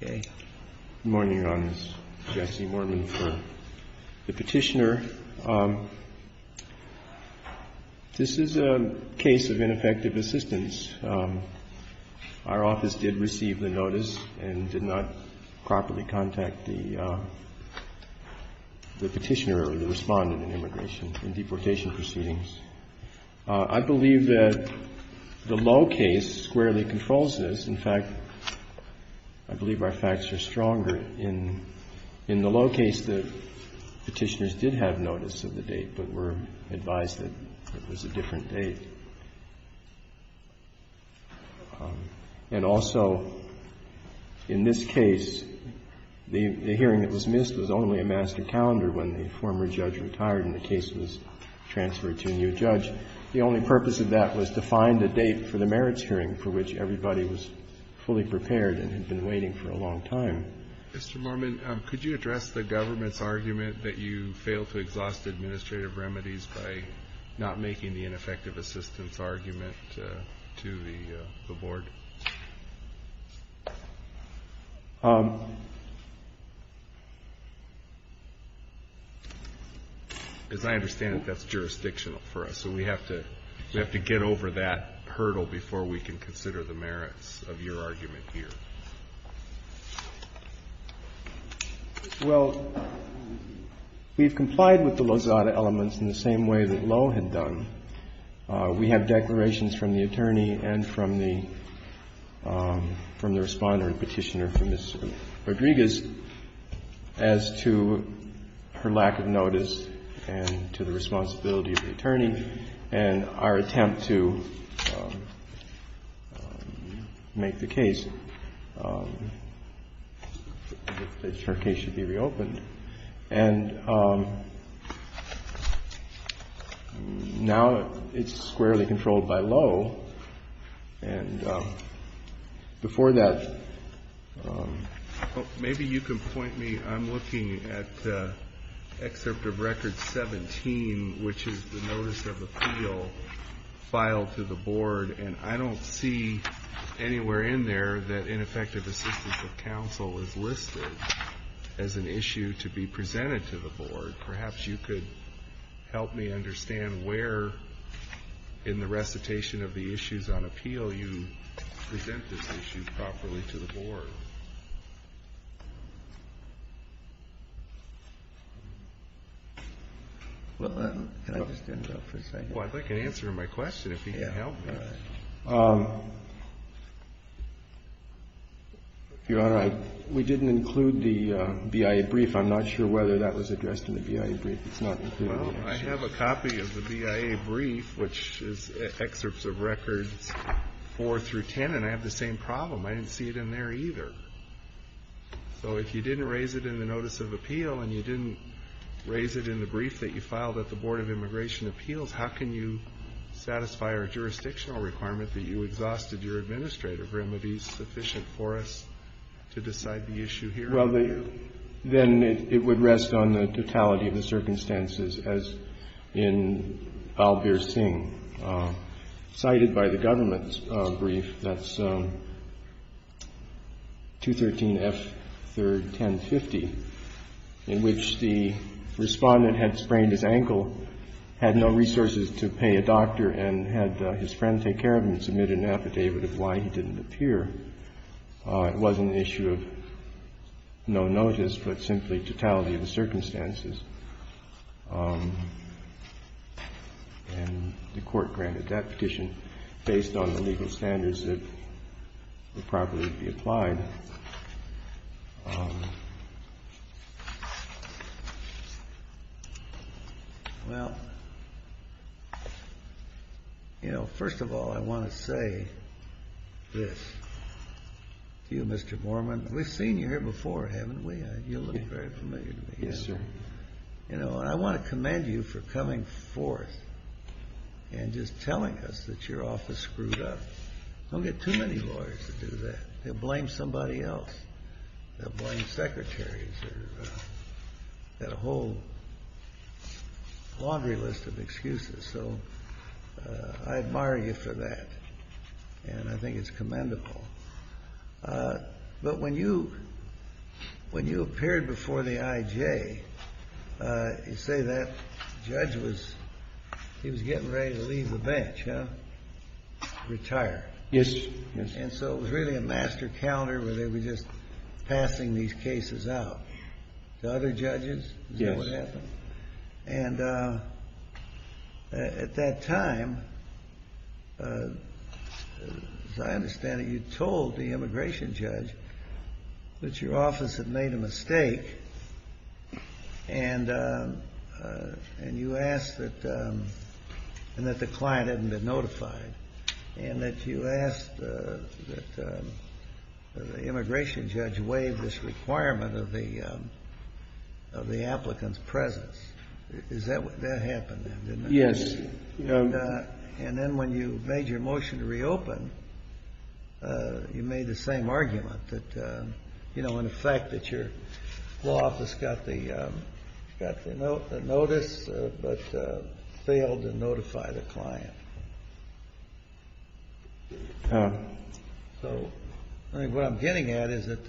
Good morning, Your Honors. Jesse Moorman for the Petitioner. This is a case of ineffective assistance. Our office did receive the notice and did not properly contact the Petitioner or the respondent in immigration and deportation proceedings. I believe that the low case squarely controls this. In fact, I believe our facts are stronger in the low case that Petitioners did have notice of the date, but were advised that it was a different date. And also, in this case, the hearing that was missed was only a master calendar when the former judge retired and the case was transferred to a new judge. The only purpose of that was to find a date for the merits hearing for which everybody was fully prepared and had been waiting for a long time. Mr. Moorman, could you address the government's argument that you failed to exhaust administrative remedies by not making the ineffective assistance argument to the Board? As I understand it, that's jurisdictional for us, so we have to get over that hurdle before we can consider the merits of your argument here. Well, we've complied with the Lozada elements in the same way that Lowe had done. We have declarations from the attorney and from the Respondent and Petitioner for Ms. Rodriguez as to her lack of notice and to the responsibility of the attorney and our attempt to make the case that her case should be reopened. And now it's squarely controlled by Lowe. And before that, maybe you can point me. I'm looking at Excerpt of Record 17, which is the Notice of Appeal filed to the Board, and I don't see anywhere in there that ineffective assistance of counsel is listed as an issue to be presented to the Board. Perhaps you could help me understand where in the recitation of the issues on appeal you present this issue properly to the Board. Well, I can answer my question if you can help me. Your Honor, we didn't include the BIA brief. I'm not sure whether that was addressed in the BIA brief. It's not included. Well, I have a copy of the BIA brief, which is Excerpts of Records 4 through 10, and I have the same problem. I didn't see it in there either. So if you didn't raise it in the Notice of Appeal and you didn't raise it in the brief that you filed at the Board of Immigration Appeals, how can you satisfy our jurisdictional requirement that you exhausted your administrative remedies sufficient for us to decide the issue here? Well, then it would rest on the totality of the circumstances, as in Albir Singh, cited by the government's brief, that's 213 F. 3rd, 1050, in which the Respondent had sprained his ankle, had no resources to pay a doctor, and had his friend take care of him and submit an affidavit of why he didn't appear. It wasn't an issue of no notice, but simply totality of the circumstances. And the court granted that petition based on the legal standards that would probably be applied. Well, you know, first of all, I want to say this to you, Mr. Borman, we've seen you here before, haven't we? You look very familiar to me. Yes, sir. You know, I want to commend you for coming forth and just telling us that your office screwed up. Don't get too many lawyers to do that. They'll blame somebody else. They'll blame secretaries. They've got a whole laundry list of excuses. So I admire you for that, and I think it's commendable. But when you appeared before the IJ, you say that judge was getting ready to leave the bench, huh? Retire. Yes. And so it was really a master calendar where they were just passing these cases out. To other judges, is that what happened? Yes. And at that time, as I understand it, you told the immigration judge that your office had made a mistake, and you asked that the client hadn't been notified, and that you Yes. And then when you made your motion to reopen, you made the same argument that, you know, in effect, that your law office got the notice but failed to notify the client. So what I'm getting at is that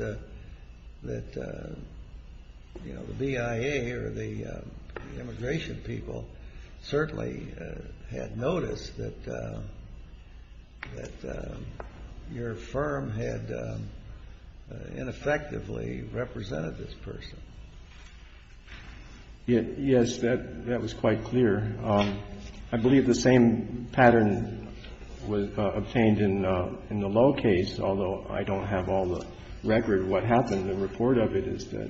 the BIA or the immigration people certainly had noticed that your firm had ineffectively represented this person. Yes, that was quite clear. I believe the same pattern was obtained in the Lowe case, although I don't have all the record of what happened. The report of it is that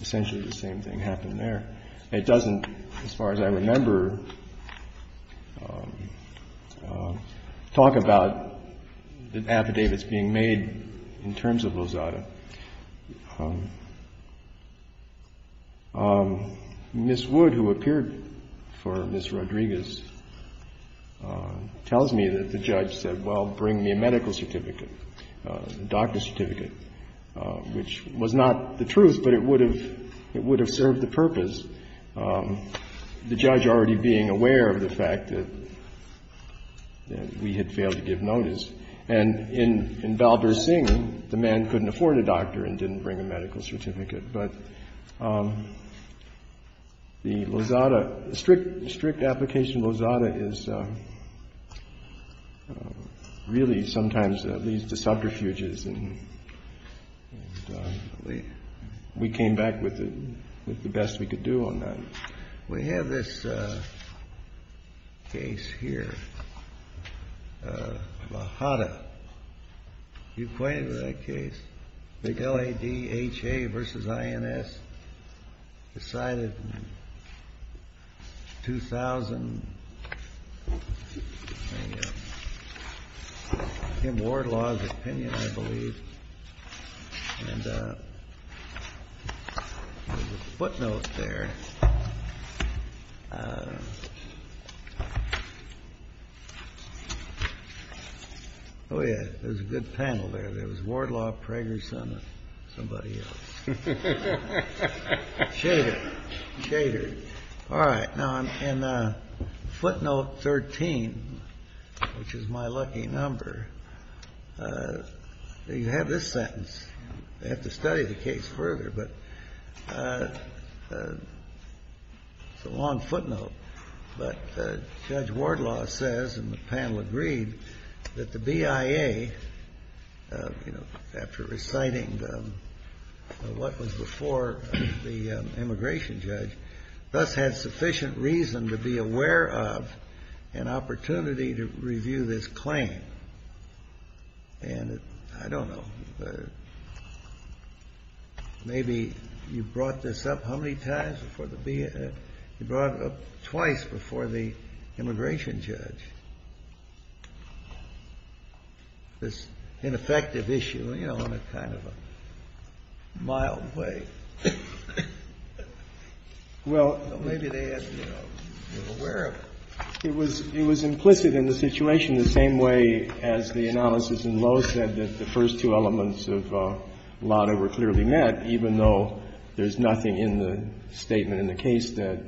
essentially the same thing happened there. It doesn't, as far as I remember, talk about the affidavits being made in terms of Lozada. Ms. Wood, who appeared for Ms. Rodriguez, tells me that the judge said, well, bring me a medical certificate, a doctor's certificate, which was not the truth, but it would have served the purpose, the judge already being aware of the fact that we had failed to give notice. And in Balbur-Singh, the man couldn't afford a doctor and didn't bring a medical certificate. But the Lozada, strict application of Lozada is really sometimes leads to subterfuges. And we came back with the best we could do on that. We have this case here, Lozada. You've pointed to that case, L-A-D-H-A versus I-N-S, decided in 2000. Tim Wardlaw's opinion, I believe. And there's a footnote there. Oh, yeah. There's a good panel there. There was Wardlaw, Prager-Son and somebody else. Chatered. Chatered. All right. Now, in footnote 13, which is my lucky number, you have this sentence. I have to study the case further, but it's a long footnote. But Judge Wardlaw says, and the panel agreed, that the BIA, you know, after reciting what was before the immigration judge, thus had sufficient reason to be aware of an opportunity to review this claim. And I don't know. Maybe you brought this up how many times before the BIA? You brought it up twice before the immigration judge. And I don't know if you were aware of this ineffective issue, you know, in a kind of a mild way. Well, maybe they had, you know, been aware of it. It was implicit in the situation the same way as the analysis in Lowe said that the first two elements of LADA were clearly met, even though there's nothing in the statement in the case that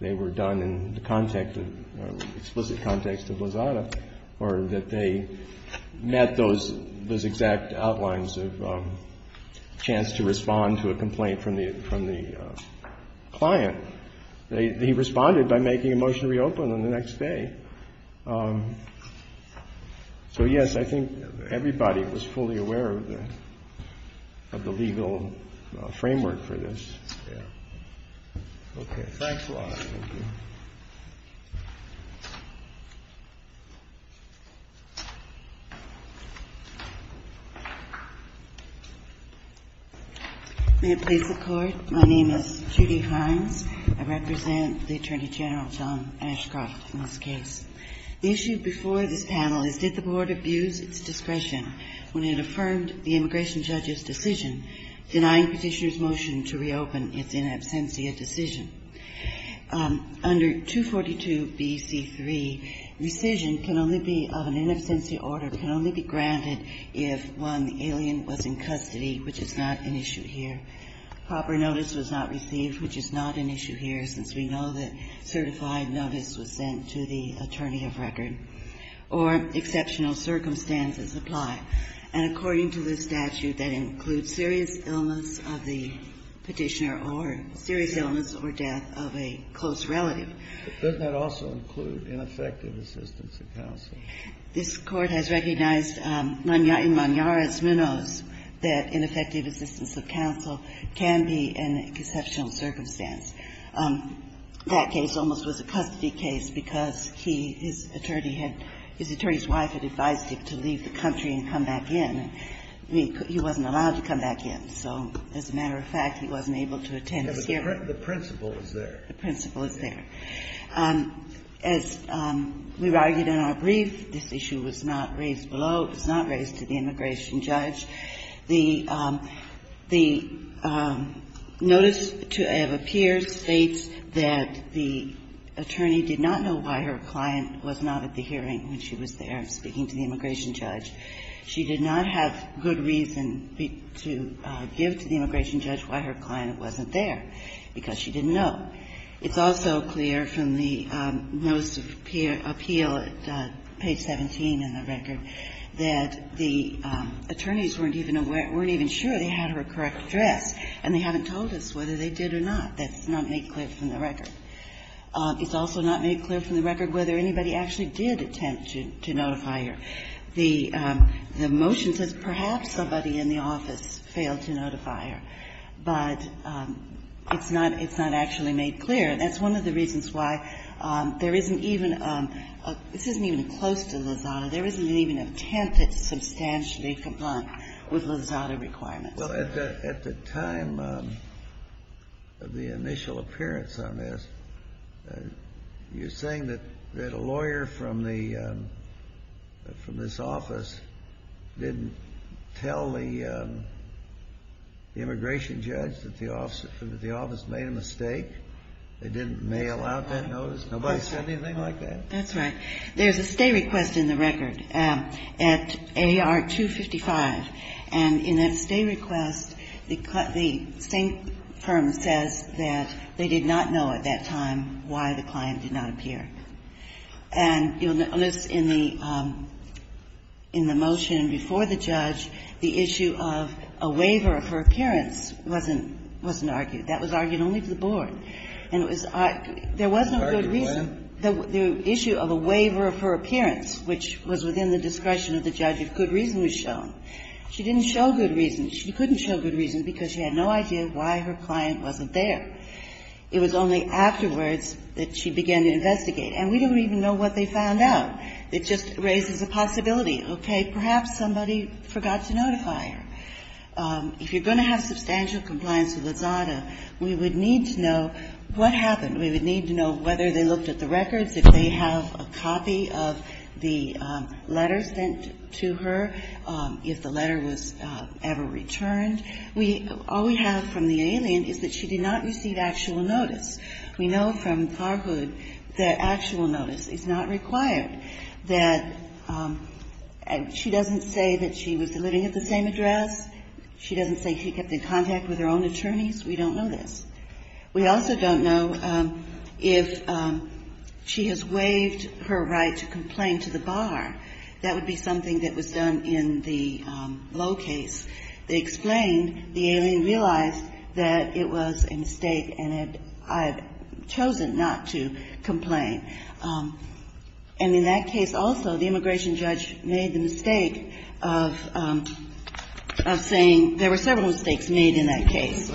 they were done in the explicit context of LAZADA, or that they met those exact outlines of chance to respond to a complaint from the client. He responded by making a motion to reopen on the next day. So, yes, I think everybody was fully aware of the legal framework for this. Okay. Thanks a lot. Thank you. May it please the Court. My name is Judy Hines. I represent the Attorney General, John Ashcroft, in this case. The issue before this panel is did the Board abuse its discretion when it affirmed the immigration judge's decision denying Petitioner's motion to reopen its in absentia decision. Under 242bc3, rescission can only be of an in absentia order. It can only be granted if, one, the alien was in custody, which is not an issue here. Proper notice was not received, which is not an issue here, since we know that certified notice was sent to the attorney of record. Or exceptional circumstances apply. And according to this statute, that includes serious illness of the Petitioner or serious illness or death of a close relative. But doesn't that also include ineffective assistance of counsel? This Court has recognized in Moniaras-Munoz that ineffective assistance of counsel can be an exceptional circumstance. That case almost was a custody case because he, his attorney had, his attorney's wife had advised him to leave the country and come back in. He wasn't allowed to come back in. So as a matter of fact, he wasn't able to attend this hearing. The principle is there. The principle is there. As we argued in our brief, this issue was not raised below, was not raised to the immigration judge. The notice to have appeared states that the attorney did not know why her client was not at the hearing when she was there speaking to the immigration judge. She did not have good reason to give to the immigration judge why her client wasn't there because she didn't know. It's also clear from the notice of appeal at page 17 in the record that the attorneys weren't even aware or weren't even sure they had her correct address, and they haven't told us whether they did or not. That's not made clear from the record. It's also not made clear from the record whether anybody actually did attempt to notify her. The motion says perhaps somebody in the office failed to notify her, but it's not actually made clear. That's one of the reasons why there isn't even a — this isn't even close to Lozada. There isn't even an attempt that's substantially blunt with Lozada requirements. Well, at the time of the initial appearance on this, you're saying that a lawyer from the — from this office didn't tell the immigration judge that the office made a mistake? They didn't mail out that notice? Nobody said anything like that? That's right. There's a stay request in the record at AR 255. And in that stay request, the same firm says that they did not know at that time why the client did not appear. And you'll notice in the motion before the judge, the issue of a waiver for appearance wasn't argued. That was argued only to the board. And it was — there was no good reason. The issue of a waiver of her appearance, which was within the discretion of the judge if good reason was shown. She didn't show good reason. She couldn't show good reason because she had no idea why her client wasn't there. It was only afterwards that she began to investigate. And we don't even know what they found out. It just raises a possibility, okay, perhaps somebody forgot to notify her. If you're going to have substantial compliance with the ZADA, we would need to know what happened. We would need to know whether they looked at the records, if they have a copy of the letter sent to her, if the letter was ever returned. We — all we have from the alien is that she did not receive actual notice. We know from Farhood that actual notice is not required, that she doesn't say that she was living at the same address. She doesn't say she kept in contact with her own attorneys. We don't know this. We also don't know if she has waived her right to complain to the bar. That would be something that was done in the Lowe case. They explained the alien realized that it was a mistake and had chosen not to complain. And in that case also, the immigration judge made the mistake of saying there were several mistakes made in that case.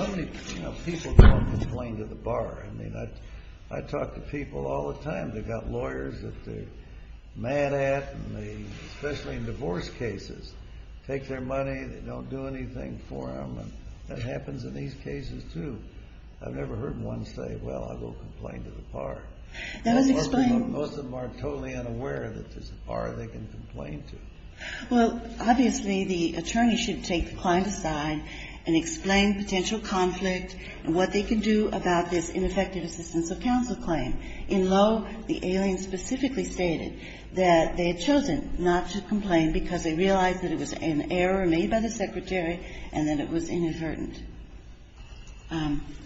People don't complain to the bar. I mean, I talk to people all the time. They've got lawyers that they're mad at, especially in divorce cases, take their money, they don't do anything for them. That happens in these cases, too. I've never heard one say, well, I'll go complain to the bar. Most of them are totally unaware that there's a bar they can complain to. Well, obviously, the attorney should take the client aside and explain potential conflict and what they can do about this ineffective assistance of counsel claim. In Lowe, the alien specifically stated that they had chosen not to complain because they realized that it was an error made by the secretary and that it was inadvertent.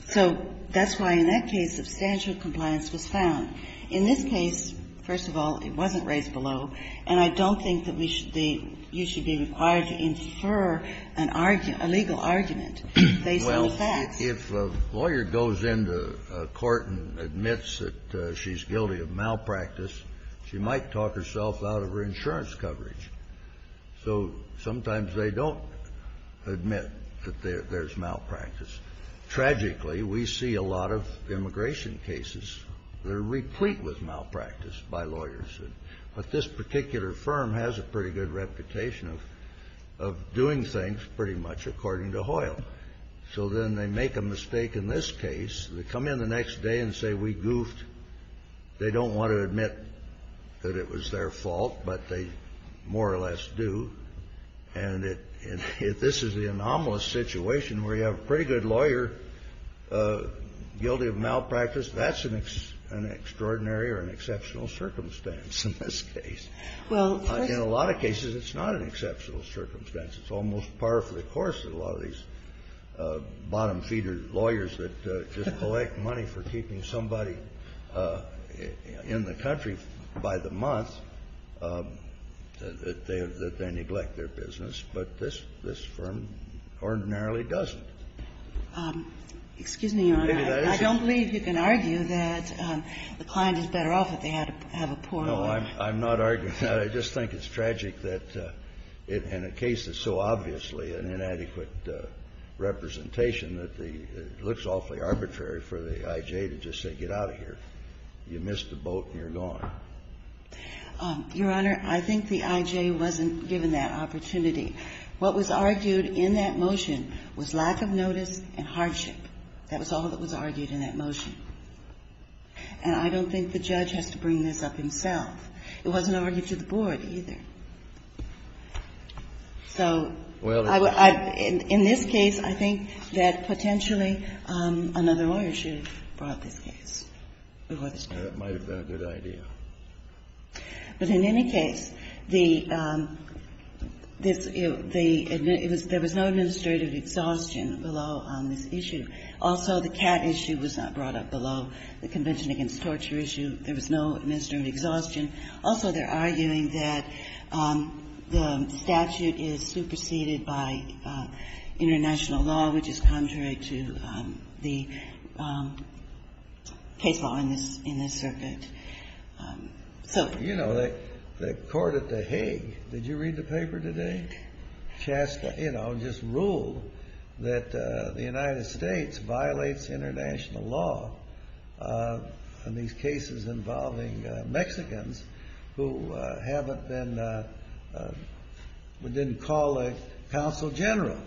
So that's why in that case substantial compliance was found. In this case, first of all, it wasn't raised below, and I don't think that we should be – you should be required to infer an argument, a legal argument based on the facts. Well, if a lawyer goes into a court and admits that she's guilty of malpractice, she might talk herself out of her insurance coverage. So sometimes they don't admit that there's malpractice. Tragically, we see a lot of immigration cases that are replete with malpractice by lawyers. But this particular firm has a pretty good reputation of doing things pretty much according to Hoyle. So then they make a mistake in this case. They come in the next day and say, we goofed. They don't want to admit that it was their fault, but they more or less do. And if this is the anomalous situation where you have a pretty good lawyer guilty of malpractice, that's an extraordinary or an exceptional circumstance in this case. In a lot of cases, it's not an exceptional circumstance. It's almost par for the course that a lot of these bottom-feeder lawyers that just come in the country by the month, that they neglect their business. But this firm ordinarily doesn't. Excuse me, Your Honor. I don't believe you can argue that the client is better off if they have a poor lawyer. No, I'm not arguing that. I just think it's tragic that in a case that's so obviously an inadequate representation that it looks awfully arbitrary for the I.J. to just say get out of here. You missed the boat and you're gone. Your Honor, I think the I.J. wasn't given that opportunity. What was argued in that motion was lack of notice and hardship. That was all that was argued in that motion. And I don't think the judge has to bring this up himself. It wasn't argued to the board either. So in this case, I think that potentially another lawyer should have brought this case before the State. That might have been a good idea. But in any case, the this the there was no administrative exhaustion below this issue. Also, the cat issue was not brought up below the Convention against Torture issue. There was no administrative exhaustion. Also, they're arguing that the statute is superseded by international law, which is contrary to the case law in this in this circuit. So, you know, the court at the Hague. Did you read the paper today? Just, you know, just rule that the United States violates international law. These cases involving Mexicans who haven't been. We didn't call a consul general.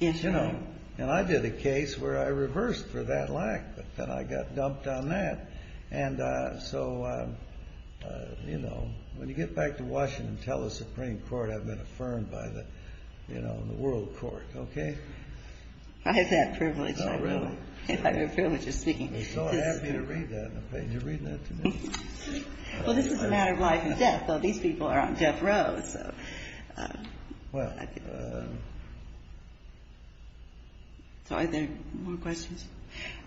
Yes. You know, and I did a case where I reversed for that lack. But then I got dumped on that. And so, you know, when you get back to Washington, tell the Supreme Court, I've been affirmed by the, you know, the world court. OK. I have that privilege. I have that privilege of speaking. I'm so happy to read that. You're reading that to me. Well, this is a matter of life and death. These people are on death row. So are there more questions?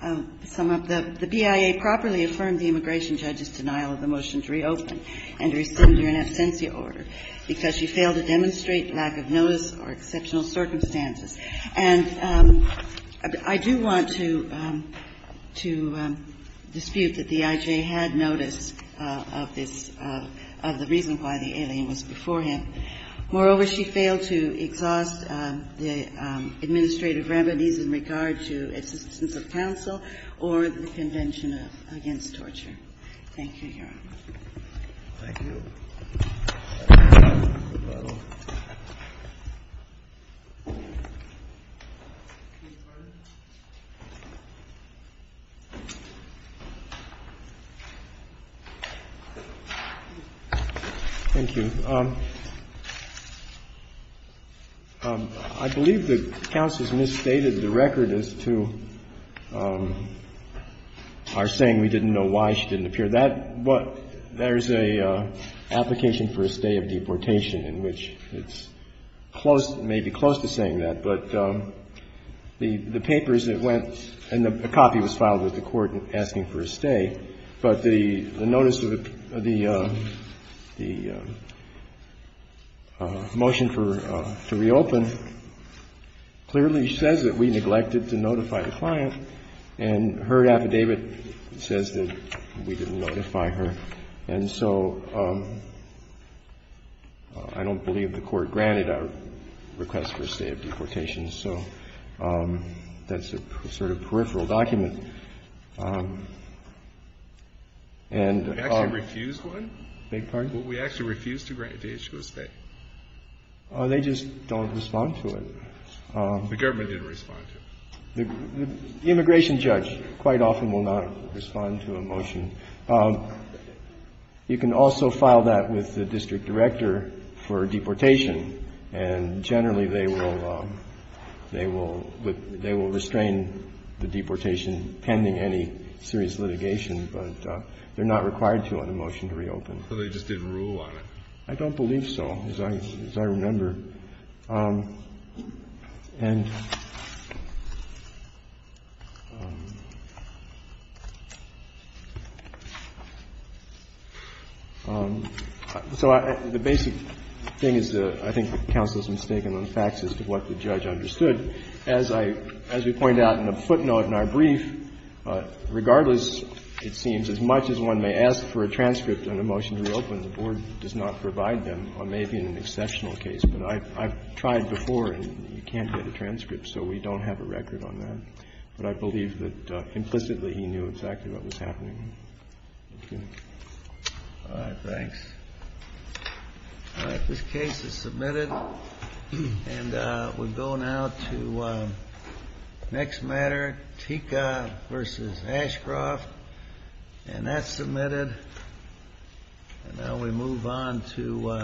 The BIA properly affirmed the immigration judge's denial of the motion to reopen and rescind her in absentia order because she failed to demonstrate lack of notice or exceptional circumstances. And I do want to dispute that the IJ had notice of this, of the reason why the alien was before him. Moreover, she failed to exhaust the administrative remedies in regard to assistance of counsel or the Convention Against Torture. Thank you, Your Honor. Thank you. Thank you. I believe the counsel has misstated the record as to our saying we didn't know why she didn't appear. That what — there's an application for a stay of deportation in which it's close, maybe close to saying that. But the papers that went — and a copy was filed with the court asking for a stay. But the notice of the motion for — to reopen clearly says that we neglected to notify the client. And her affidavit says that we didn't notify her. And so I don't believe the court granted our request for a stay of deportation. So that's a sort of peripheral document. And — We actually refused one? Beg your pardon? We actually refused to grant the issue a stay. They just don't respond to it. The government didn't respond to it. The immigration judge quite often will not respond to a motion. You can also file that with the district director for deportation. And generally, they will — they will — they will restrain the deportation pending any serious litigation. But they're not required to on a motion to reopen. So they just didn't rule on it? I don't believe so, as I — as I remember. And so I — the basic thing is that I think the counsel is mistaken on facts as to what the judge understood. As I — as we point out in a footnote in our brief, regardless, it seems, as much as one may ask for a transcript on a motion to reopen, the board does not provide them, or maybe in an exceptional case. But I've tried before, and you can't get a transcript. So we don't have a record on that. But I believe that implicitly he knew exactly what was happening. Thank you. All right. Thanks. All right. This case is submitted. And we'll go now to the next matter, Tika v. Ashcroft. And that's submitted. And now we move on to —